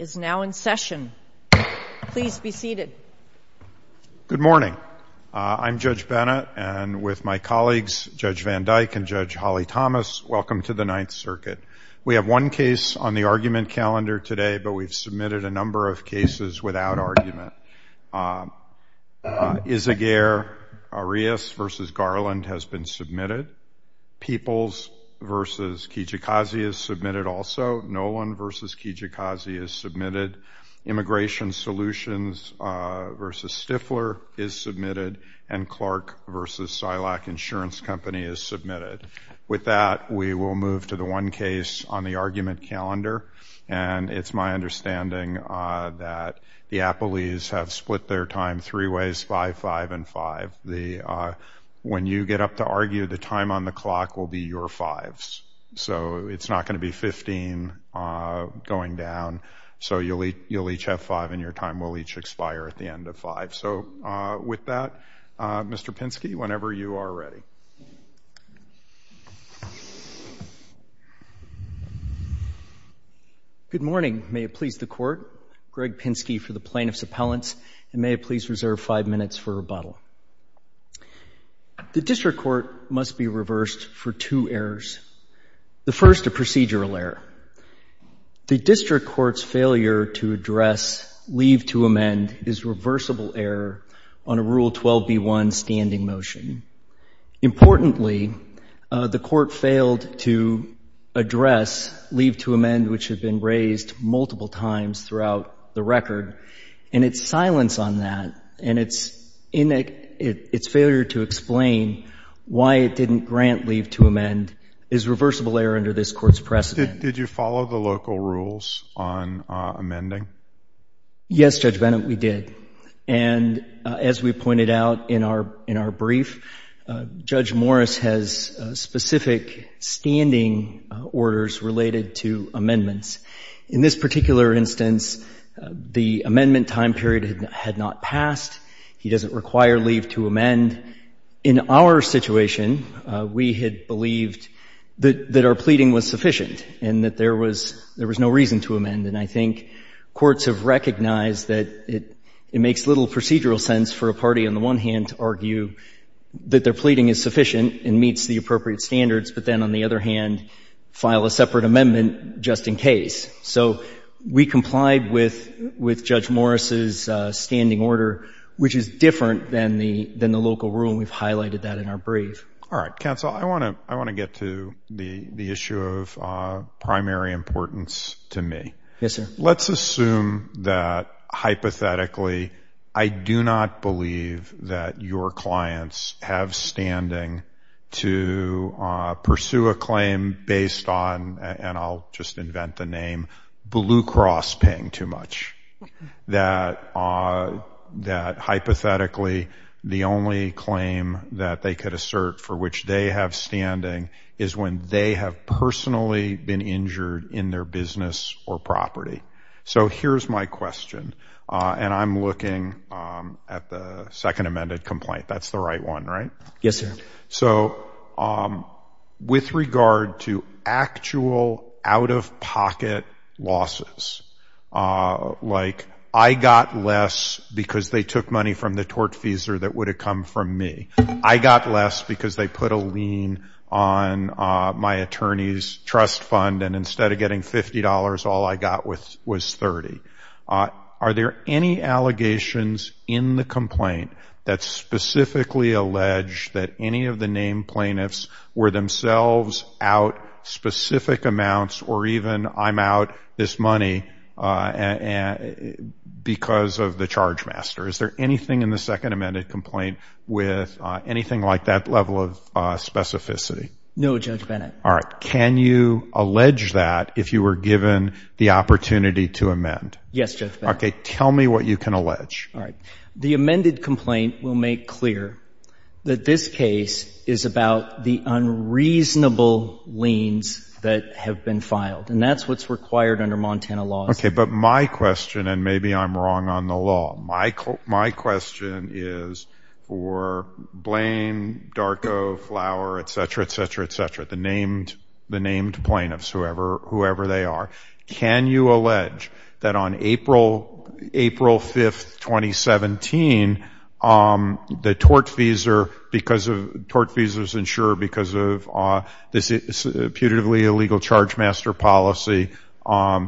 is now in session. Please be seated. Good morning. I'm Judge Bennett, and with my colleagues Judge Van Dyke and Judge Holly Thomas, welcome to the Ninth Circuit. We have one case on the argument calendar today, but we've submitted a number of cases without argument. Issa Gare Arias v. Garland has been submitted. Peoples v. Kijikazi is submitted also. Nolan v. Kodiak is submitted. Immigration Solutions v. Stifler is submitted, and Clark v. Silak Insurance Company is submitted. With that, we will move to the one case on the argument calendar, and it's my understanding that the Appelees have split their time three ways, 5-5-5. When you get up to argue, the time on the clock will be your fives, so it's not going to be fifteen going down. So you'll each have five, and your time will each expire at the end of five. So with that, Mr. Pinsky, whenever you are ready. Good morning. May it please the Court, Greg Pinsky for the Plaintiff's Appellants, and may it please reserve five minutes for rebuttal. The District Court must be reversed for two errors. The first, a procedural error. The District Court's failure to address leave to amend is reversible error on a Rule 12b1 standing motion. Importantly, the Court failed to address leave to amend which had been raised multiple times throughout the record, and its silence on that and its failure to explain why it didn't grant leave to amend is reversible error under this Court's precedent. Did you follow the local rules on amending? Yes, Judge Bennett, we did. And as we pointed out in our brief, Judge Morris has specific standing orders related to amending amendments. In this particular instance, the amendment time period had not passed. He doesn't require leave to amend. In our situation, we had believed that our pleading was sufficient and that there was no reason to amend. And I think courts have recognized that it makes little procedural sense for a party on the one hand to argue that their pleading is sufficient and meets the appropriate standards, but then on the other hand, file a separate amendment just in case. So we complied with Judge Morris's standing order, which is different than the local rule, and we've highlighted that in our brief. All right, counsel, I want to get to the issue of primary importance to me. Yes, sir. Let's assume that hypothetically, I do not believe that your clients have standing to pursue a claim based on, and I'll just invent the name, Blue Cross paying too much. That hypothetically, the only claim that they could assert for which they have standing is when they have personally been injured in their business or property. So here's my question, and I'm looking at the second amended complaint. That's the right one, right? Yes, sir. So with regard to actual out-of-pocket losses, like I got less because they took money from the tortfeasor that would have come from me. I got less because they put a lien on my attorney's trust fund and instead of getting $50, all I got was $30. Are there any allegations in the complaint that specifically allege that any of the named plaintiffs were themselves out specific amounts or even I'm out this money because of the charge master? Is there anything in the second amended complaint with anything like that level of specificity? No, Judge Bennett. All right. Can you allege that if you were given the opportunity to amend? Yes, Judge Bennett. Tell me what you can allege. All right. The amended complaint will make clear that this case is about the unreasonable liens that have been filed, and that's what's required under Montana laws. Okay, but my question, and maybe I'm wrong on the law, my question is for Blaine, Darko, Flower, et cetera, et cetera, et cetera, the named plaintiffs, whoever they are, can you allege that on April 5th, 2017, the tortfeasor, tortfeasors insure because of this putatively illegal charge master policy,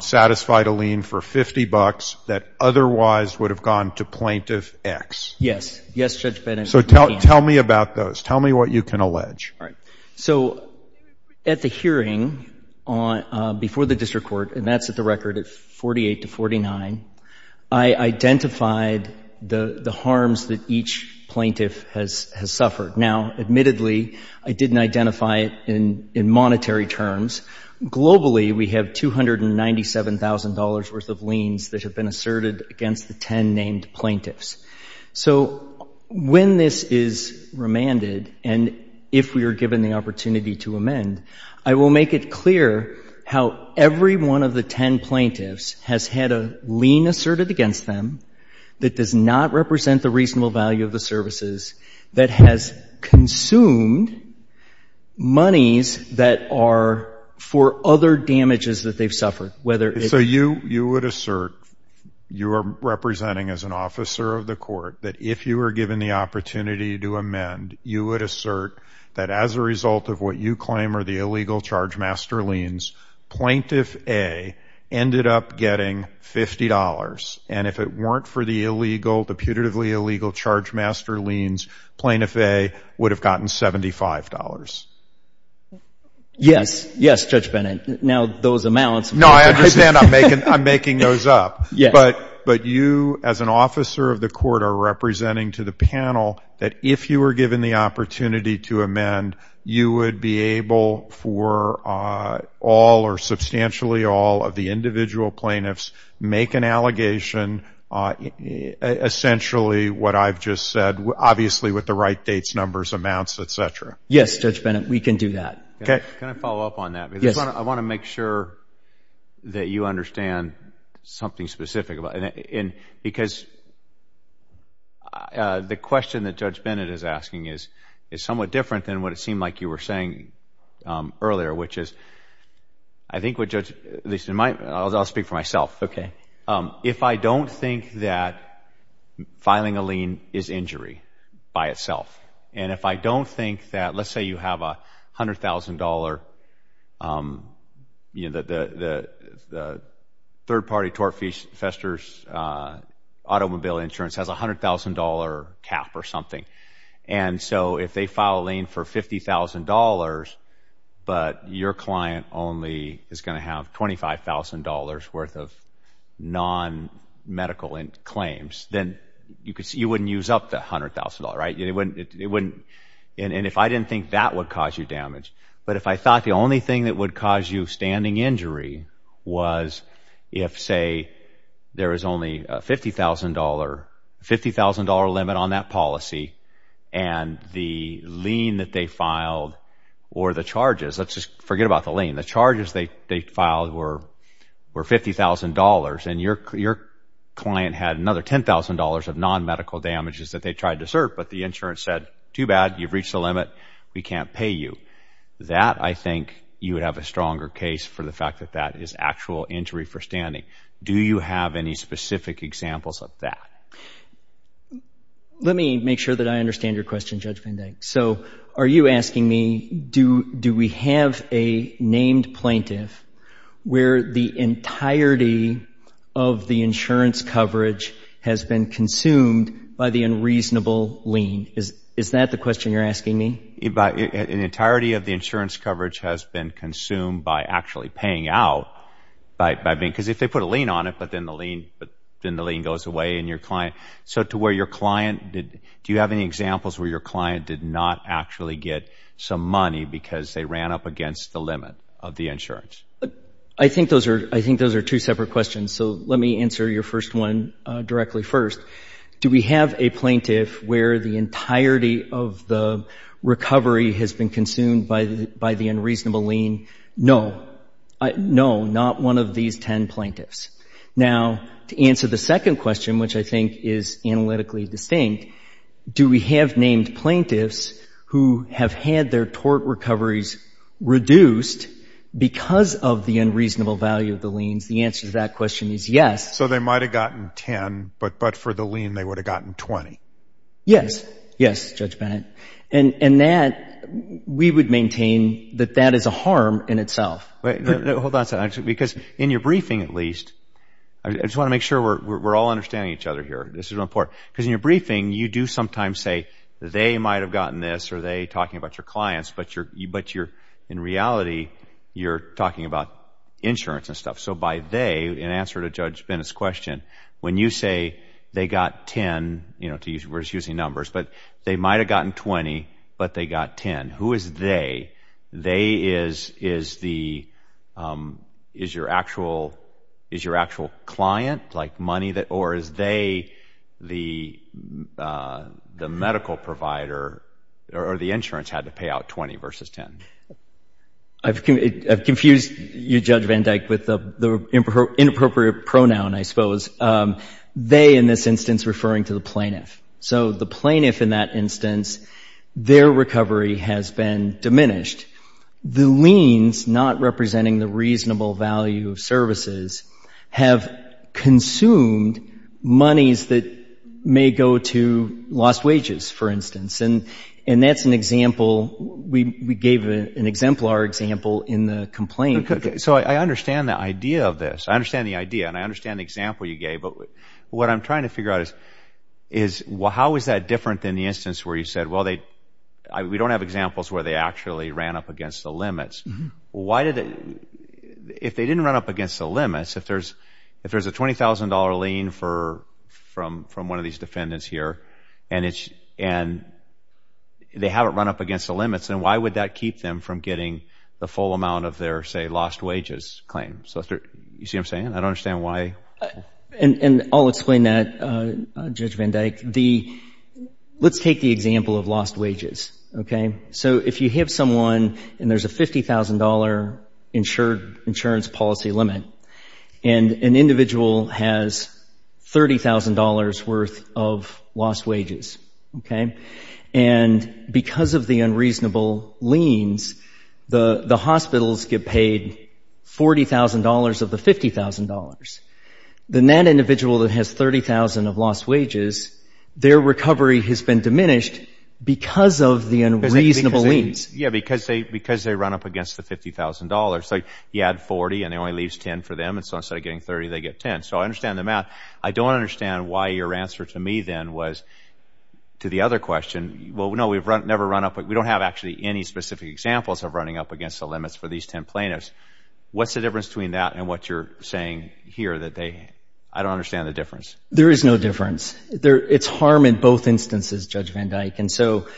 satisfied a lien for $50 that otherwise would have gone to plaintiff X? Yes. Yes, Judge Bennett. So tell me about those. Tell me what you can allege. All right. So at the hearing before the district court, and that's at the record at 48 to 49, I identified the harms that each plaintiff has suffered. Now, admittedly, I didn't identify it in monetary terms. Globally, we have $297,000 worth of liens that have been asserted against the 10 named plaintiffs. So when this is remanded, and if we are given the opportunity to amend, I will make it clear how every one of the 10 plaintiffs has had a lien asserted against them that does not represent the reasonable value of the services, that has consumed monies that are for other damages that they've suffered, whether it's a lawsuit or a lawsuit. So you would assert, you are representing as an officer of the court, that if you were given the opportunity to amend, you would assert that as a result of what you claim are the illegal charge master liens, plaintiff A ended up getting $50. And if it weren't for the illegal, the putatively illegal charge master liens, plaintiff A would have gotten $75. Yes. Yes, Judge Bennett. Now, those amounts No, I understand. I'm making those up. But you as an officer of the court are representing to the panel that if you were given the opportunity to amend, you would be able for all or substantially all of the individual plaintiffs make an allegation, essentially what I've just said, obviously with the right dates, numbers, amounts, etc. Yes, Judge Bennett, we can do that. Can I follow up on that? Yes. I want to make sure that you understand something specific about it. Because the question that Judge Bennett is asking is somewhat different than what it seemed like you were saying earlier, which is, I think what Judge, at least in my, I'll speak for myself. Okay. If I don't think that filing a lien is injury by itself, and if I don't think that, let's say you have a $100,000, you know, the third-party Torfester's automobile insurance has a $100,000 cap or something. And so if they file a lien for $50,000, but your client only is going to have $25,000 worth of non-medical claims, then you wouldn't use up that $100,000, right? And if I didn't think that would cause you damage, but if I thought the only thing that would cause you standing injury was if, say, there is only a $50,000 limit on that policy and the lien that they filed or the charges, let's just forget about the lien, the charges they filed were $50,000 and your client had another $10,000 of non-medical damages that they tried to serve, but the insurance said, too bad, you've reached the limit, we can't pay you. That, I think, you would have a stronger case for the fact that that is actual injury for standing. Do you have any specific examples of that? Let me make sure that I understand your question, Judge Van Dyck. So are you asking me, do we have a named plaintiff where the entirety of the insurance coverage has been consumed by the unreasonable lien? Is that the question you're asking me? The entirety of the insurance coverage has been consumed by actually paying out, because if they put a lien on it, but then the lien goes away and your client, so to where your client, do you have any examples where your client did not actually get some money because they ran up against the limit of the insurance? I think those are two separate questions, so let me answer your first one directly first. Do we have a plaintiff where the entirety of the recovery has been consumed by the unreasonable lien? No. No, not one of these 10 plaintiffs. Now, to answer the second question, which I think is analytically distinct, do we have named plaintiffs who have had their tort recoveries reduced because of the unreasonable value of the liens? The answer to that question is yes. So they might have gotten 10, but for the lien they would have gotten 20? Yes. Yes, Judge Bennett. And that, we would maintain that that is a harm in itself. Hold on a second, because in your briefing at least, I just want to make sure we're all understanding each other here. This is important. Because in your briefing, you do sometimes say that they might have gotten this or they might have gotten that. But in reality, you're talking about insurance and stuff. So by they, in answer to Judge Bennett's question, when you say they got 10, we're just using numbers, but they might have gotten 20, but they got 10. Who is they? They is your actual client? Money? Or is they the medical provider or the insurance had to pay out 20 versus 10? I've confused you, Judge Van Dyke, with the inappropriate pronoun, I suppose. They, in this instance, referring to the plaintiff. So the plaintiff in that instance, their recovery has been diminished. The liens, not representing the reasonable value of services, have consumed monies that may go to lost wages, for instance. And that's an example, we gave an exemplar example in the complaint. So I understand the idea of this. I understand the idea and I understand the example you gave. But what I'm trying to figure out is how is that different than the examples where they actually ran up against the limits? If they didn't run up against the limits, if there's a $20,000 lien from one of these defendants here and they haven't run up against the limits, then why would that keep them from getting the full amount of their, say, lost wages claim? You see what I'm saying? I don't understand why. And I'll explain that, Judge Van Dyke. The, let's take the example of lost wages, okay? So if you have someone and there's a $50,000 insurance policy limit, and an individual has $30,000 worth of lost wages, okay? And because of the unreasonable liens, the hospitals get paid $40,000 of the $50,000. Then that individual that has $30,000 of lost wages, their recovery has been diminished because of the unreasonable liens. Yeah, because they run up against the $50,000. So you add $40,000 and it only leaves $10,000 for them. And so instead of getting $30,000, they get $10,000. So I understand the math. I don't understand why your answer to me then was to the other question, well, no, we've never run up, we don't have actually any specific examples of running up against the limits for these 10 plaintiffs. What's the difference between that and what you're saying here that they, I don't understand the difference. There is no difference. It's harm in both instances, Judge Van Dyke. And so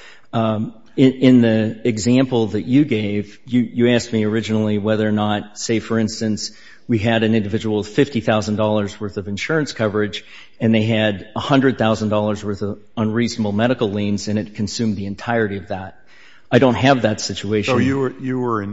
in the example that you gave, you asked me originally whether or not, say for instance, we had an individual with $50,000 worth of insurance coverage and they had $100,000 worth of unreasonable medical liens and it consumed the entirety of that. I don't have that situation. So you were,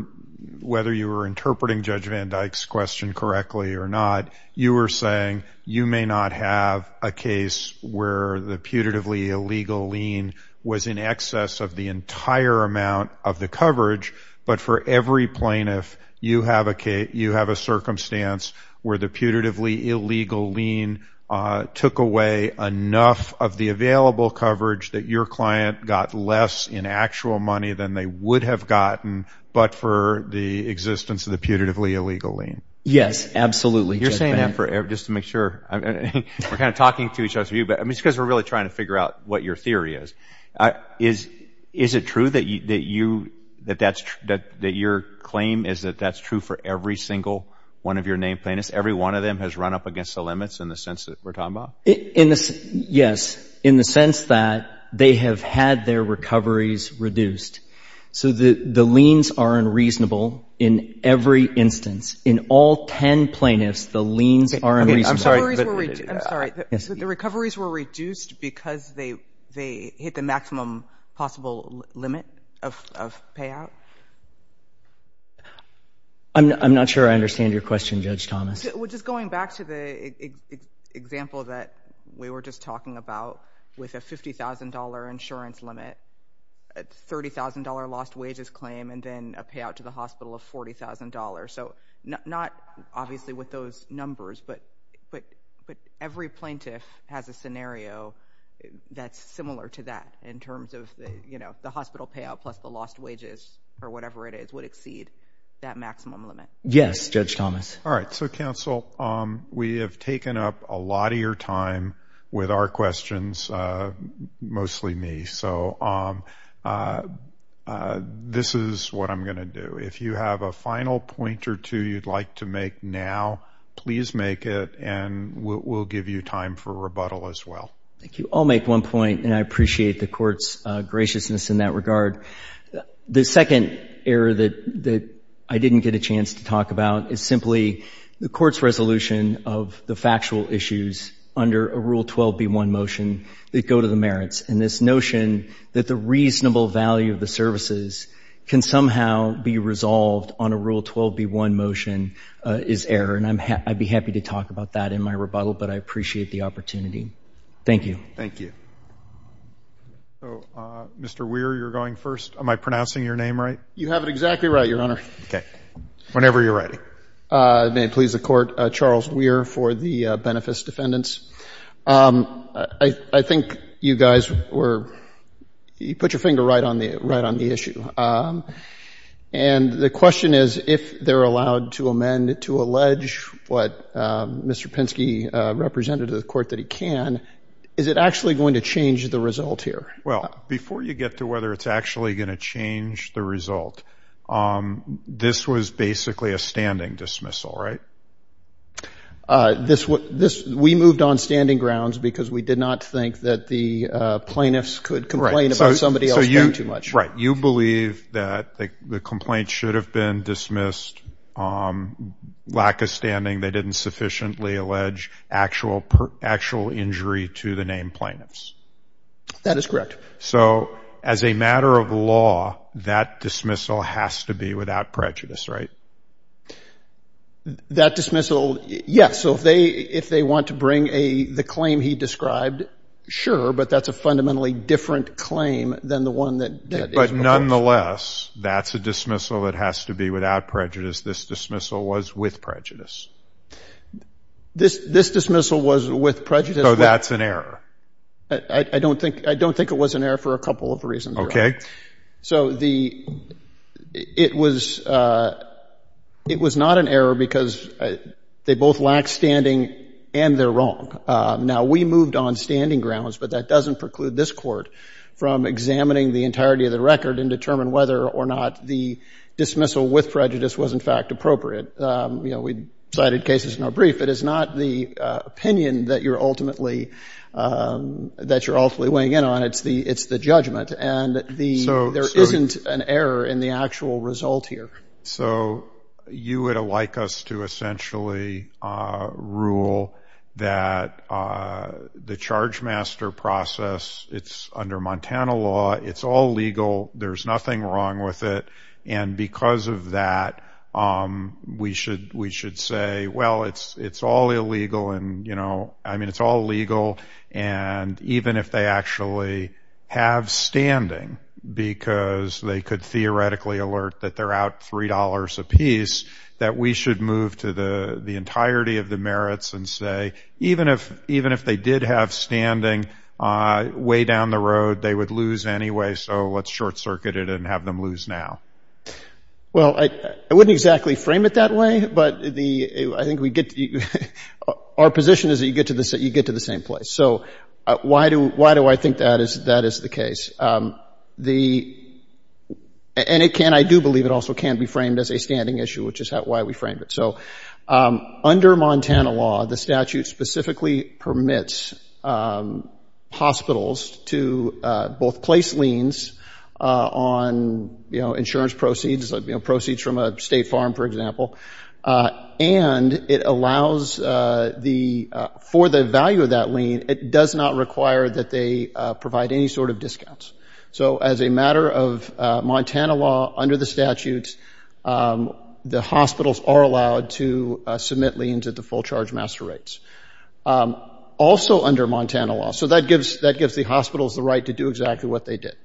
whether you were interpreting Judge Van Dyke's question correctly or not, you were saying you may not have a case where the putatively illegal lien was in excess of the entire amount of the coverage, but for every plaintiff, you have a case, you have a circumstance where the putatively illegal lien took away enough of the available coverage that your client got less in actual money than they would have gotten, but for the existence of the putatively illegal lien. Yes, absolutely. You're saying that just to make sure. We're kind of talking to each other. I mean, it's because we're really trying to figure out what your theory is. Is it true that your claim is that that's true for every single one of your named plaintiffs? Every one of them has run up against the limits in the sense that we're talking about? Yes, in the sense that they have had their recoveries reduced. So the liens are unreasonable in every instance. In all 10 plaintiffs, the liens are unreasonable. I'm sorry, but the recoveries were reduced because they hit the maximum possible limit of payout? I'm not sure I understand your question, Judge Thomas. Just going back to the example that we were just talking about with a $50,000 insurance limit, a $30,000 lost wages claim, and then a payout to the hospital of $40,000. So not obviously with those numbers, but every plaintiff has a scenario that's similar to that in terms of the hospital payout plus the lost wages or whatever it is would exceed that maximum limit. Yes, Judge Thomas. All right. So, counsel, we have taken up a lot of your time with our questions, mostly me. So this is what I'm going to do. If you have a final point or two you'd like to make now, please make it, and we'll give you time for rebuttal as well. Thank you. I'll make one point, and I appreciate the court's graciousness in that regard. The second error that I didn't get a chance to talk about is simply the court's resolution of the factual issues under a Rule 12b1 motion that go to the merits, and this notion that the reasonable value of the services can somehow be resolved on a Rule 12b1 motion is error, and I'd be happy to talk about that in my rebuttal, but I appreciate the opportunity. Thank you. Thank you. So, Mr. Weir, you're going first. Am I pronouncing your name right? You have it exactly right, Your Honor. Okay. Whenever you're ready. May it please the Court, Charles Weir for the Benefis Defendants. I think you guys were, you put your finger right on the issue. And the question is, if they're allowed to amend, to allege what Mr. Pinsky represented to the Court that he can, is it actually going to change the result here? Well, before you get to whether it's actually going to change the result, this was basically a standing dismissal, right? We moved on standing grounds because we did not think that the plaintiffs could complain about somebody else doing too much. Right. You believe that the complaint should have been dismissed, lack of standing, they didn't sufficiently allege actual injury to the named plaintiffs. That is correct. So, as a matter of law, that dismissal has to be without prejudice, right? That dismissal, yes. So, if they want to bring the claim he described, sure, but that's a fundamentally different claim than the one that- But nonetheless, that's a dismissal that has to be without prejudice. This dismissal was with prejudice. This dismissal was with prejudice. So, that's an error. I don't think it was an error for a couple of reasons. Okay. So, it was not an error because they both lack standing and they're wrong. Now, we moved on standing grounds, but that doesn't preclude this Court from examining the entirety of the record and determine whether or not the dismissal with prejudice was in fact appropriate. We cited cases in our brief. It is not the opinion that you're ultimately weighing in on. It's the judgment, and there isn't an error in the actual result here. So, you would like us to essentially rule that the Chargemaster process, it's under Montana law, it's all legal, there's nothing wrong with it, and because of that, we should say, well, it's all illegal and, you know, I mean, it's all legal, and even if they actually have standing, because they could theoretically alert that they're out $3 a piece, that we should move to the entirety of the merits and say, even if they did have standing way down the road, they would lose anyway, so let's short circuit it and have them lose now. Well, I wouldn't exactly frame it that way, but the, I think we get, our position is that you get to the, you get to the same place. So, why do, why do I think that is, that is the case? The, and it can, I do believe it also can be framed as a standing issue, which is how, why we frame it. So, under Montana law, the statute specifically permits hospitals to both place liens on, you know, insurance proceeds, you know, proceeds from a state farm, for example, and it allows the, for the value of that lien, it does not require that they provide any sort of discounts. So, as a matter of Montana law, under the statute, the hospitals are allowed to submit liens at the full charge master rates. Also under Montana law, so that gives, that gives the hospitals the right to do exactly what they did.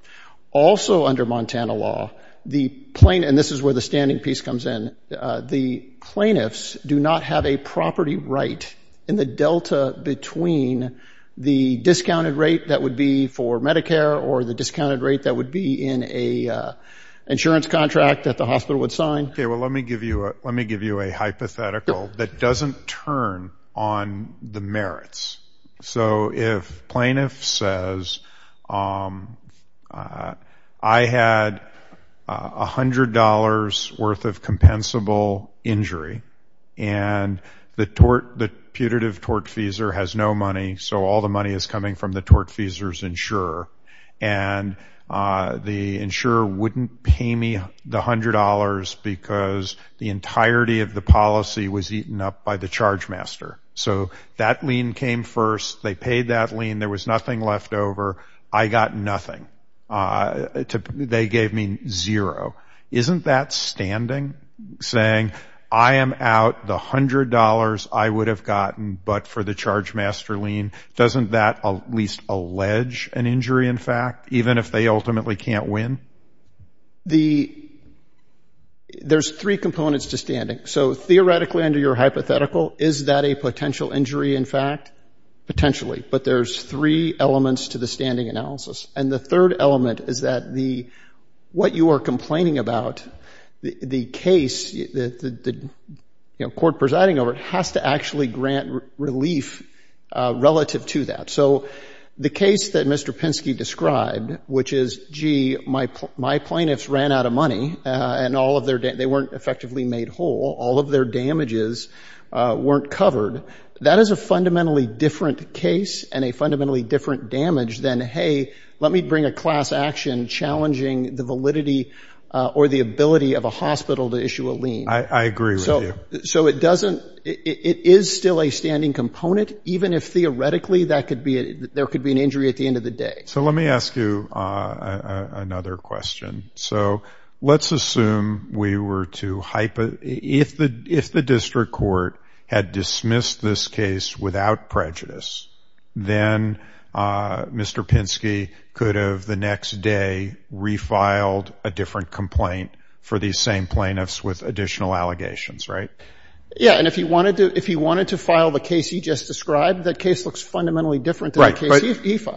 Also under Montana law, the plain, and this is where the standing piece comes in, the plaintiffs do not have a property right in the delta between the discounted rate that would be for Medicare or the discounted rate that would be in a insurance contract that the hospital would sign. Okay, well, let me give you a, let me give you a hypothetical that doesn't turn on the merits. So, if plaintiff says, I had a hundred dollars worth of compensable injury, and the tort, the putative tortfeasor has no money, so all the money is coming from the tortfeasor's insurer, and the insurer wouldn't pay me the hundred dollars because the entirety of the policy was eaten up by the charge master. So, that lien came first, they paid that lien, there was nothing left over, I got nothing. They gave me zero. Isn't that standing? Saying, I am out the hundred dollars I would have gotten but for the charge master lien, doesn't that at least allege an injury, in fact, even if they ultimately can't win? The, there's three components to standing. So, theoretically under your hypothetical, is that a potential injury in fact? Potentially, but there's three elements to the standing analysis. And the third element is that the, what you are complaining about, the case, you know, court presiding over it has to actually grant relief relative to that. So, the case that Mr. Penske described, which is, gee, my, my plaintiffs ran out of money, and all of their, they weren't effectively made whole, all of their damages weren't covered. That is a fundamentally different case and a fundamentally different damage than, hey, let me bring a class action challenging the validity or the ability of a hospital to issue a lien. I, I agree with you. So, so it doesn't, it is still a standing component, even if there could be an injury at the end of the day. So, let me ask you another question. So, let's assume we were to hypo, if the, if the district court had dismissed this case without prejudice, then Mr. Penske could have the next day refiled a different complaint for these same plaintiffs with additional allegations, right? Yeah. And if you wanted to, if you wanted to refile,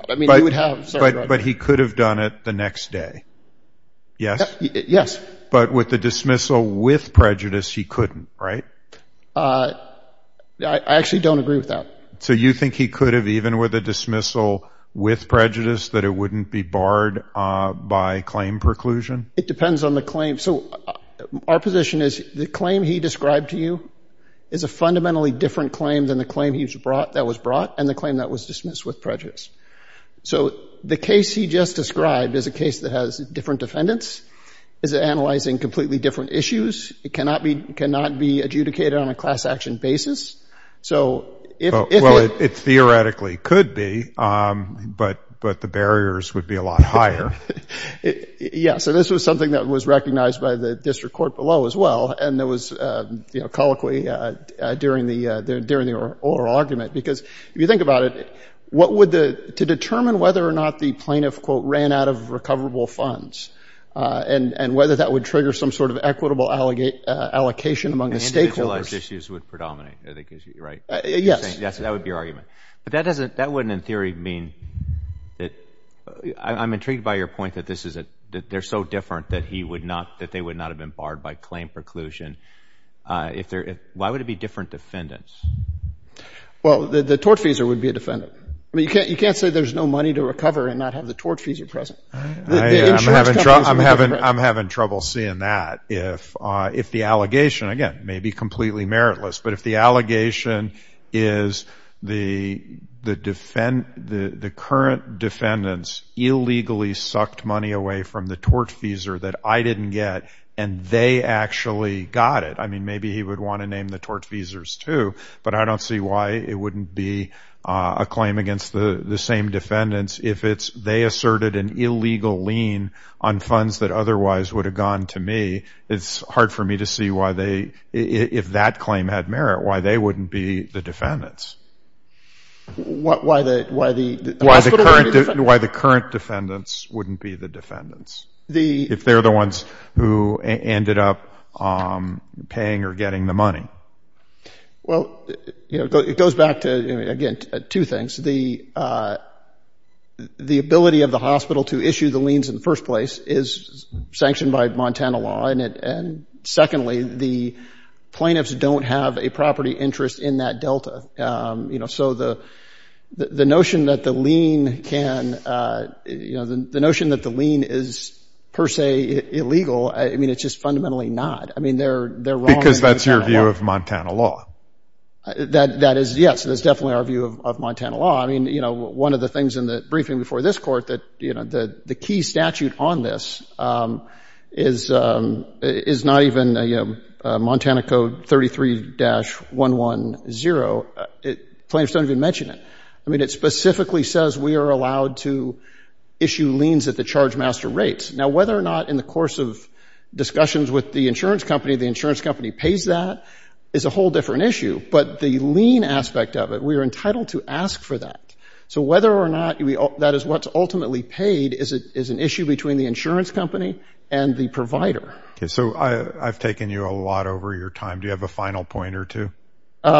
I mean, you would have. But, but he could have done it the next day, yes? Yes. But with the dismissal with prejudice, he couldn't, right? I, I actually don't agree with that. So, you think he could have, even with a dismissal with prejudice, that it wouldn't be barred by claim preclusion? It depends on the claim. So, our position is the claim he described to you is a fundamentally different claim than the claim he was brought, that was brought, and the claim that was dismissed with prejudice. So, the case he just described is a case that has different defendants, is analyzing completely different issues. It cannot be, cannot be adjudicated on a class action basis. So, if, if it. Well, it theoretically could be, but, but the barriers would be a lot higher. Yeah. So, this was something that was recognized by the district court below as well. And there was, you know, colloquy during the, during the oral argument, because if you think about it, what would the, to determine whether or not the plaintiff, quote, ran out of recoverable funds, and, and whether that would trigger some sort of equitable allocate, allocation among the stakeholders. Individualized issues would predominate, I think is right. Yes. Yes, that would be your argument. But that doesn't, that wouldn't, in theory, mean that, I'm intrigued by your point that this is a, that they're so different that he would not, that they would not have been barred by claim preclusion. If there, why would it be different defendants? Well, the, the tortfeasor would be a defendant. I mean, you can't, you can't say there's no money to recover and not have the tortfeasor present. I'm having, I'm having trouble seeing that. If, if the allegation, again, may be completely meritless, but if the allegation is the, the defend, the, the current defendants illegally sucked money away from the tortfeasor that I didn't get, and they actually got it, I mean, maybe he would want to name the tortfeasors too, but I don't see why it wouldn't be a claim against the, the same defendants if it's, they asserted an illegal lien on funds that otherwise would have gone to me. It's hard for me to see why they, if that claim had merit, why they wouldn't be the defendants. Why the, why the, why the current defendants wouldn't be the defendants, if they're the ones who ended up paying or getting the money. Well, you know, it goes back to, again, two things. The, the ability of the hospital to issue the liens in the first place is sanctioned by Montana law, and it, and secondly, the plaintiffs don't have a property interest in that delta. You know, so the, the notion that the lien can, you know, the notion that the lien is per se illegal, I mean, it's just fundamentally not. I mean, they're, they're wrong. Because that's your view of Montana law. That, that is, yes, that's definitely our view of Montana law. I mean, you know, one of the things in the briefing before this court that, you know, the, the key statute on this is, is not even, you know, Montana Code 33-110. Plaintiffs don't even mention it. I mean, it specifically says we are allowed to issue liens at the charge master rates. Now, whether or not in the course of discussions with the insurance company, the insurance company pays that is a whole different issue. But the lien aspect of it, we are entitled to ask for that. So whether or not that is what's ultimately paid is an issue between the insurance company and the provider. Okay. So I've taken you a lot over your time. Do you have a final point or two? You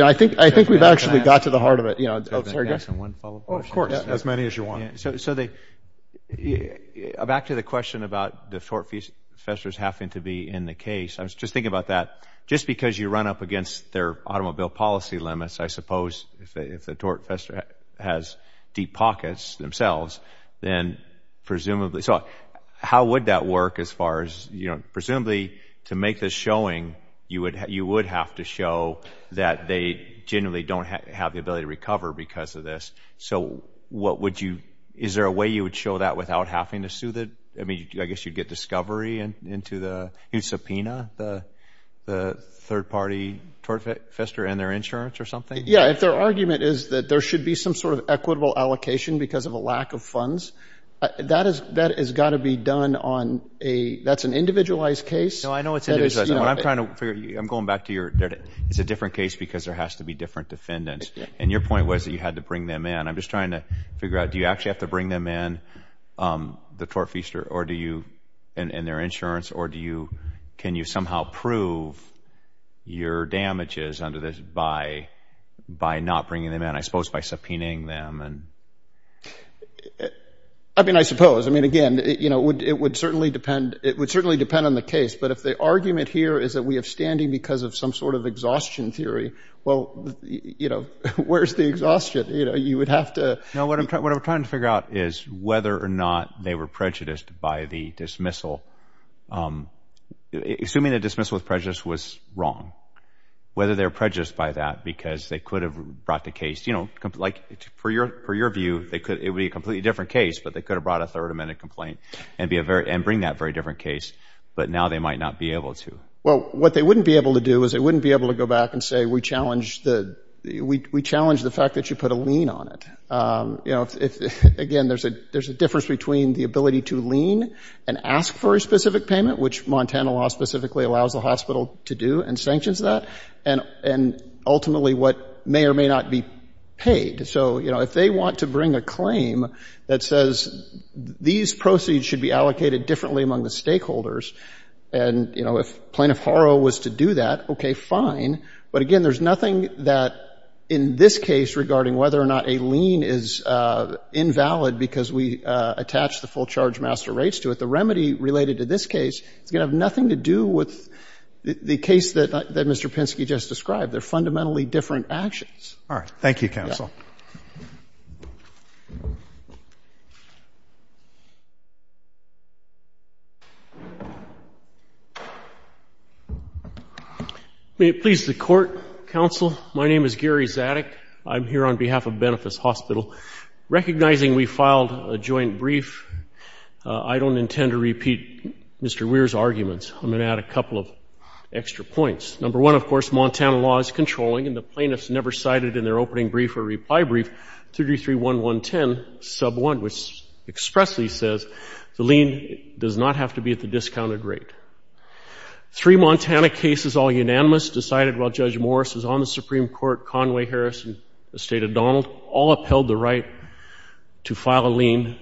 know, I think, I think we've actually got to the heart of it, you know. Oh, sorry, go ahead. Oh, of course. As many as you want. So, so the, back to the question about the tort professors having to be in the case. I was just thinking about that. Just because you run up against their automobile policy limits, I suppose, if they, if the tort professor has deep pockets themselves, then presumably, so how would that work as far as, you know, presumably to make this showing, you would, you would have to show that they genuinely don't have the ability to recover because of this. So what would you, is there a way you would show that without having to sue the, I mean, I guess you'd get discovery into the, you'd subpoena the, the third party tort fester and their insurance or something? Yeah. If their argument is that there should be some sort of equitable allocation because of a lack of funds, that is, that has got to be done on a, that's an individualized case. No, I know it's individualized. I'm trying to figure, I'm going back to your, it's a different case because there has to be different defendants. And your point was that you had to bring them in. I'm just trying to figure out, do you actually have to bring them in the tort fester or do you, and their insurance, or do you, can you somehow prove your damages under this by, by not bringing them in, I suppose by subpoenaing them and. I mean, I suppose, I mean, again, you know, it would, it would certainly depend, it would certainly depend on the case. But if the argument here is that we have standing because of some sort of exhaustion theory, well, you know, where's the exhaustion? You know, you would have to. No, what I'm trying, what I'm trying to figure out is whether or not they were dismissal, assuming that dismissal with prejudice was wrong, whether they're prejudiced by that, because they could have brought the case, you know, like for your, for your view, they could, it would be a completely different case, but they could have brought a third amendment complaint and be a very, and bring that very different case. But now they might not be able to. Well, what they wouldn't be able to do is they wouldn't be able to go back and say, we challenged the, we challenged the fact that you put a lien on it. You know, if, again, there's a difference between the ability to lien and ask for a specific payment, which Montana law specifically allows the hospital to do and sanctions that. And, and ultimately what may or may not be paid. So, you know, if they want to bring a claim that says these proceeds should be allocated differently among the stakeholders. And, you know, if Plaintiff Haro was to do that, okay, fine. But again, there's nothing that in this case regarding whether or not a lien is invalid because we attach the full charge master rates to it. The remedy related to this case, it's going to have nothing to do with the case that Mr. Pinsky just described. They're fundamentally different actions. All right. Thank you, counsel. May it please the court, counsel. My name is Gary Zadig. I'm here on behalf of Benefice Hospital. Recognizing we filed a joint brief, I don't intend to repeat Mr. Weir's arguments. I'm going to add a couple of extra points. Number one, of course, Montana law is controlling and the plaintiffs never cited in their opening brief or reply brief 3331110 sub 1, which expressly says the lien does not have to be at the discounted rate. Three Montana cases all unanimous decided while Judge Morris is on the Supreme Court, Conway, Harris, and the State of Donald all upheld the right to file a lien.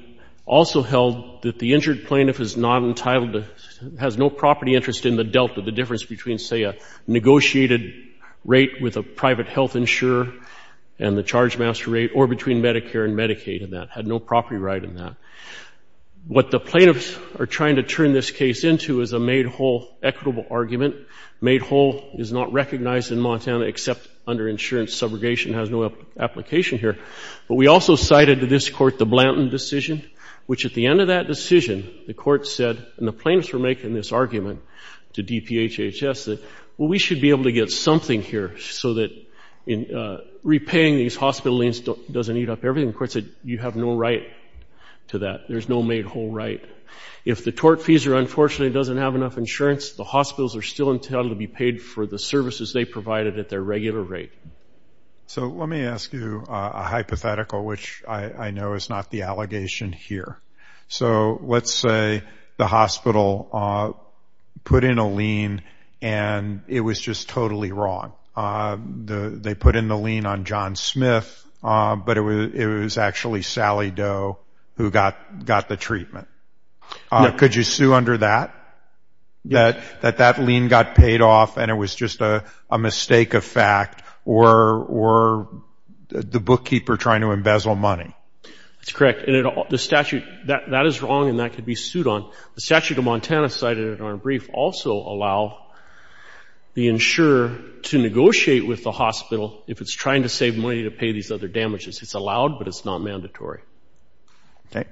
Also held that the injured plaintiff is not entitled to, has no property interest in the dealt with the difference between, say, a negotiated rate with a private health insurer and the charge master rate or between Medicare and Medicaid and that had no property right in that. What the plaintiffs are trying to turn this case into is a made whole equitable argument. Made whole is not recognized in Montana except under insurance. Subrogation has no application here. But we also cited to this court the Blanton decision, which at the end of that decision, the court said, and the plaintiffs were making this argument to DPHHS that, well, we should be able to get something here so that repaying these hospital liens doesn't eat up everything. The court said you have no right to that. There's no made whole right. If the tortfeasor unfortunately doesn't have enough insurance, the hospitals are still entitled to be paid for the services they provided at their regular rate. So let me ask you a hypothetical, which I know is not the allegation here. So let's say the hospital put in a lien and it was just totally wrong. They put in the lien on John Smith, but it was actually Sally Doe who got the treatment. Could you sue under that, that that lien got paid off and it was just a mistake of fact or the bookkeeper trying to embezzle money? That's correct. And the statute, that is wrong and that could be sued on. The statute of Montana cited in our brief also allow the insurer to negotiate with the hospital if it's trying to save money to pay these other damages. It's allowed, but it's not mandatory. Okay.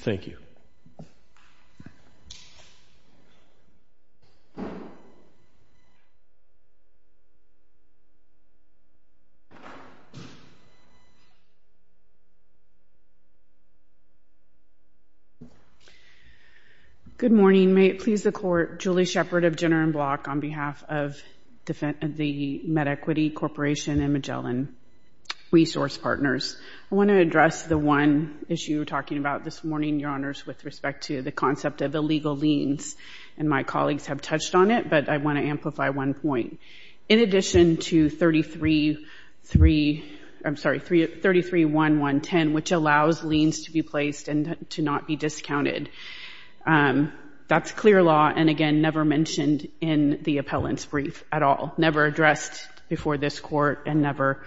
Thank you. Good morning. May it please the court, Julie Shepard of Jenner and Block on behalf of the one issue we're talking about this morning, your honors, with respect to the concept of illegal liens. And my colleagues have touched on it, but I want to amplify one point. In addition to 33-3, I'm sorry, 33-1-1-10, which allows liens to be placed and to not be discounted. That's clear law. And again, never mentioned in the appellant's brief at all, never addressed before this court and never,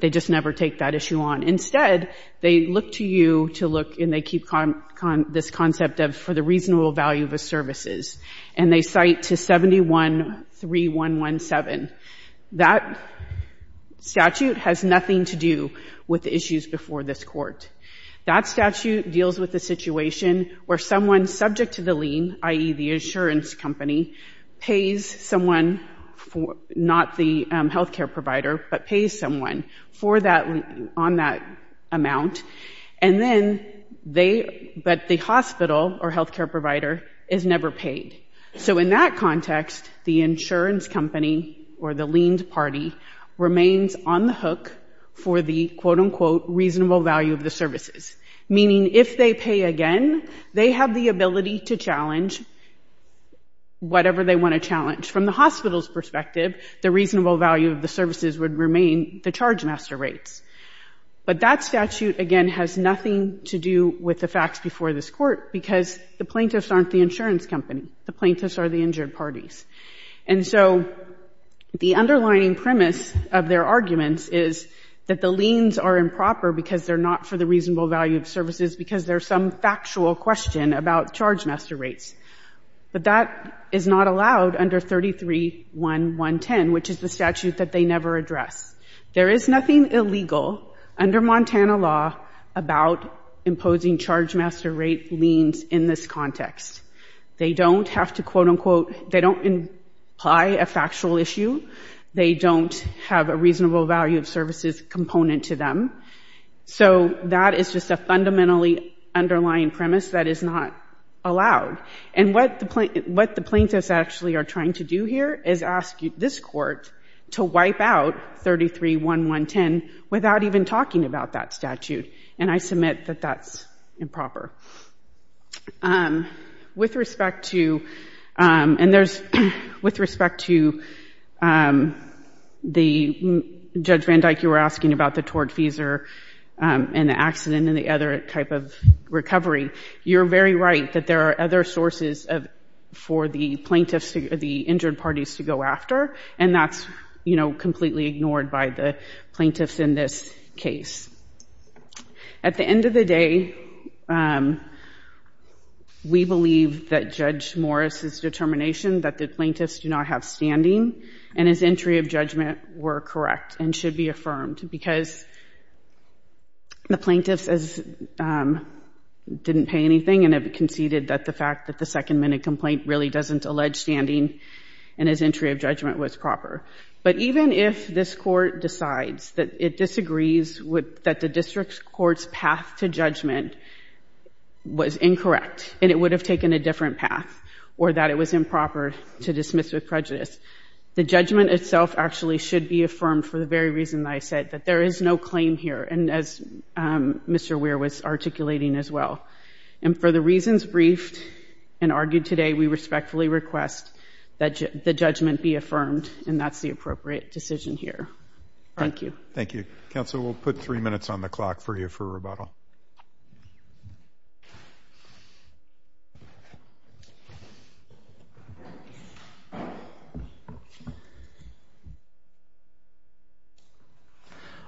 they just never take that issue on. Instead, they look to you to look and they keep this concept of for the reasonable value of the services. And they cite to 71-3-1-1-7. That statute has nothing to do with the issues before this court. That statute deals with the situation where someone subject to the lien, i.e. the insurance company, pays someone not the healthcare provider, but pays someone for that, on that amount. And then they, but the hospital or healthcare provider is never paid. So in that context, the insurance company or the liens party remains on the hook for the quote unquote reasonable value of the services. Meaning if they pay again, they have the ability to challenge whatever they want to challenge. From the hospital's perspective, the reasonable value of the services would remain the charge master rates. But that statute, again, has nothing to do with the facts before this court because the plaintiffs aren't the insurance company. The plaintiffs are the injured parties. And so the underlining premise of their arguments is that the liens are improper because they're not for the reasonable value of services because there's some factual question about charge master rates. But that is not allowed under 33-1-110, which is the statute that they never address. There is nothing illegal under Montana law about imposing charge master rate liens in this context. They don't have to quote unquote, they don't imply a factual issue. They don't have a reasonable value of services component to them. So that is just a fundamentally underlying premise that is not allowed. And what the plaintiffs actually are trying to do here is ask this court to wipe out 33-1-110 without even talking about that statute. And I submit that that's improper. With respect to, and there's, with respect to the Judge Van Dyke you were asking about the tort fees and the accident and the other type of recovery, you're very right that there are other sources for the plaintiffs, the injured parties to go after. And that's, you know, completely ignored by the plaintiffs in this case. At the end of the day, we believe that Judge Morris's determination that the plaintiffs do not have standing and his entry of judgment were correct and should be the plaintiffs didn't pay anything and have conceded that the fact that the second minute complaint really doesn't allege standing and his entry of judgment was proper. But even if this court decides that it disagrees with, that the district court's path to judgment was incorrect and it would have taken a different path or that it was improper to dismiss with prejudice, the And as Mr. Weir was articulating as well. And for the reasons briefed and argued today, we respectfully request that the judgment be affirmed and that's the appropriate decision here. Thank you. Thank you. Counsel, we'll put three minutes on the clock for you for rebuttal.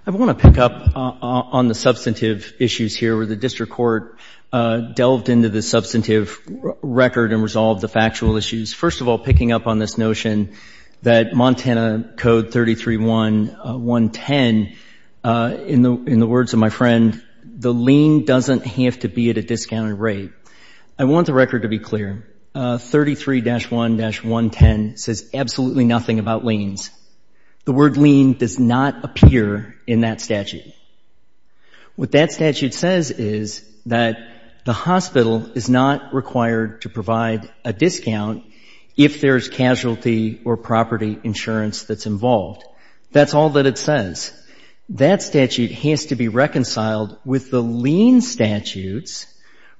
I want to pick up on the substantive issues here where the district court delved into the substantive record and resolved the factual issues. First of all, picking up on this notion that Montana Code 331110, in the words of my friend, the lien doesn't have to be at a discounted rate. I want the record to be clear. 33-1-110 says absolutely nothing about liens. The word lien does not appear in that statute. What that statute says is that the hospital is not required to provide a discount if there's casualty or property insurance that's involved. That's all that it says. That statute has to be reconciled with the lien statutes,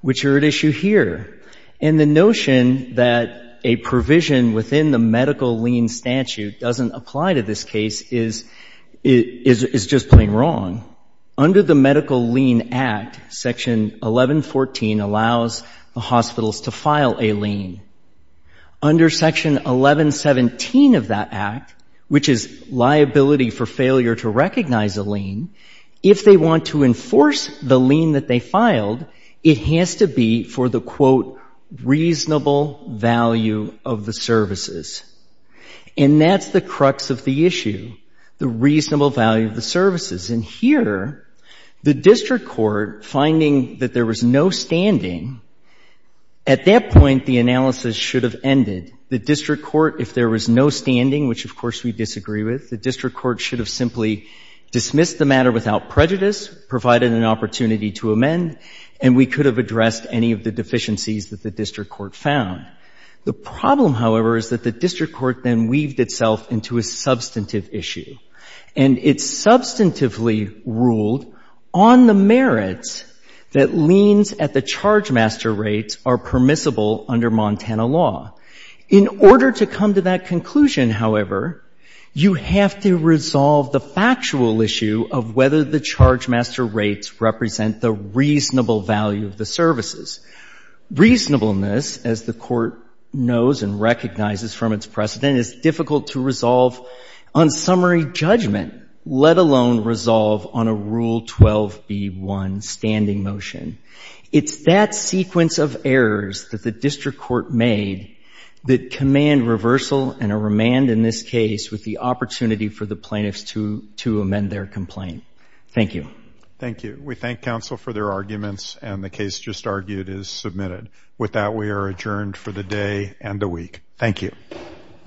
which are at issue here. And the notion that a provision within the medical lien statute doesn't apply to this case is just plain wrong. Under the Medical Lien Act, Section 1114 allows the hospitals to file a lien. Under Section 1117 of that Act, which is liability for failure to recognize a lien, if they want to enforce the lien that they filed, it has to be for the, quote, reasonable value of the services. And here, the district court finding that there was no standing, at that point, the analysis should have ended. The district court, if there was no standing, which of course we disagree with, the district court should have simply dismissed the matter without prejudice, provided an opportunity to amend, and we could have addressed any of the deficiencies that the district court found. The problem, however, is that the district court then weaved itself into a substantive issue. And it substantively ruled on the merits that liens at the chargemaster rates are permissible under Montana law. In order to come to that conclusion, however, you have to resolve the factual issue of whether the chargemaster rates represent the reasonable value of the services. Reasonableness, as the then, is difficult to resolve on summary judgment, let alone resolve on a Rule 12b1 standing motion. It's that sequence of errors that the district court made that command reversal and a remand in this case with the opportunity for the plaintiffs to amend their complaint. Thank you. Thank you. We thank counsel for their arguments, and the case just argued is submitted. With that, we are adjourned for the day and the week. Thank you.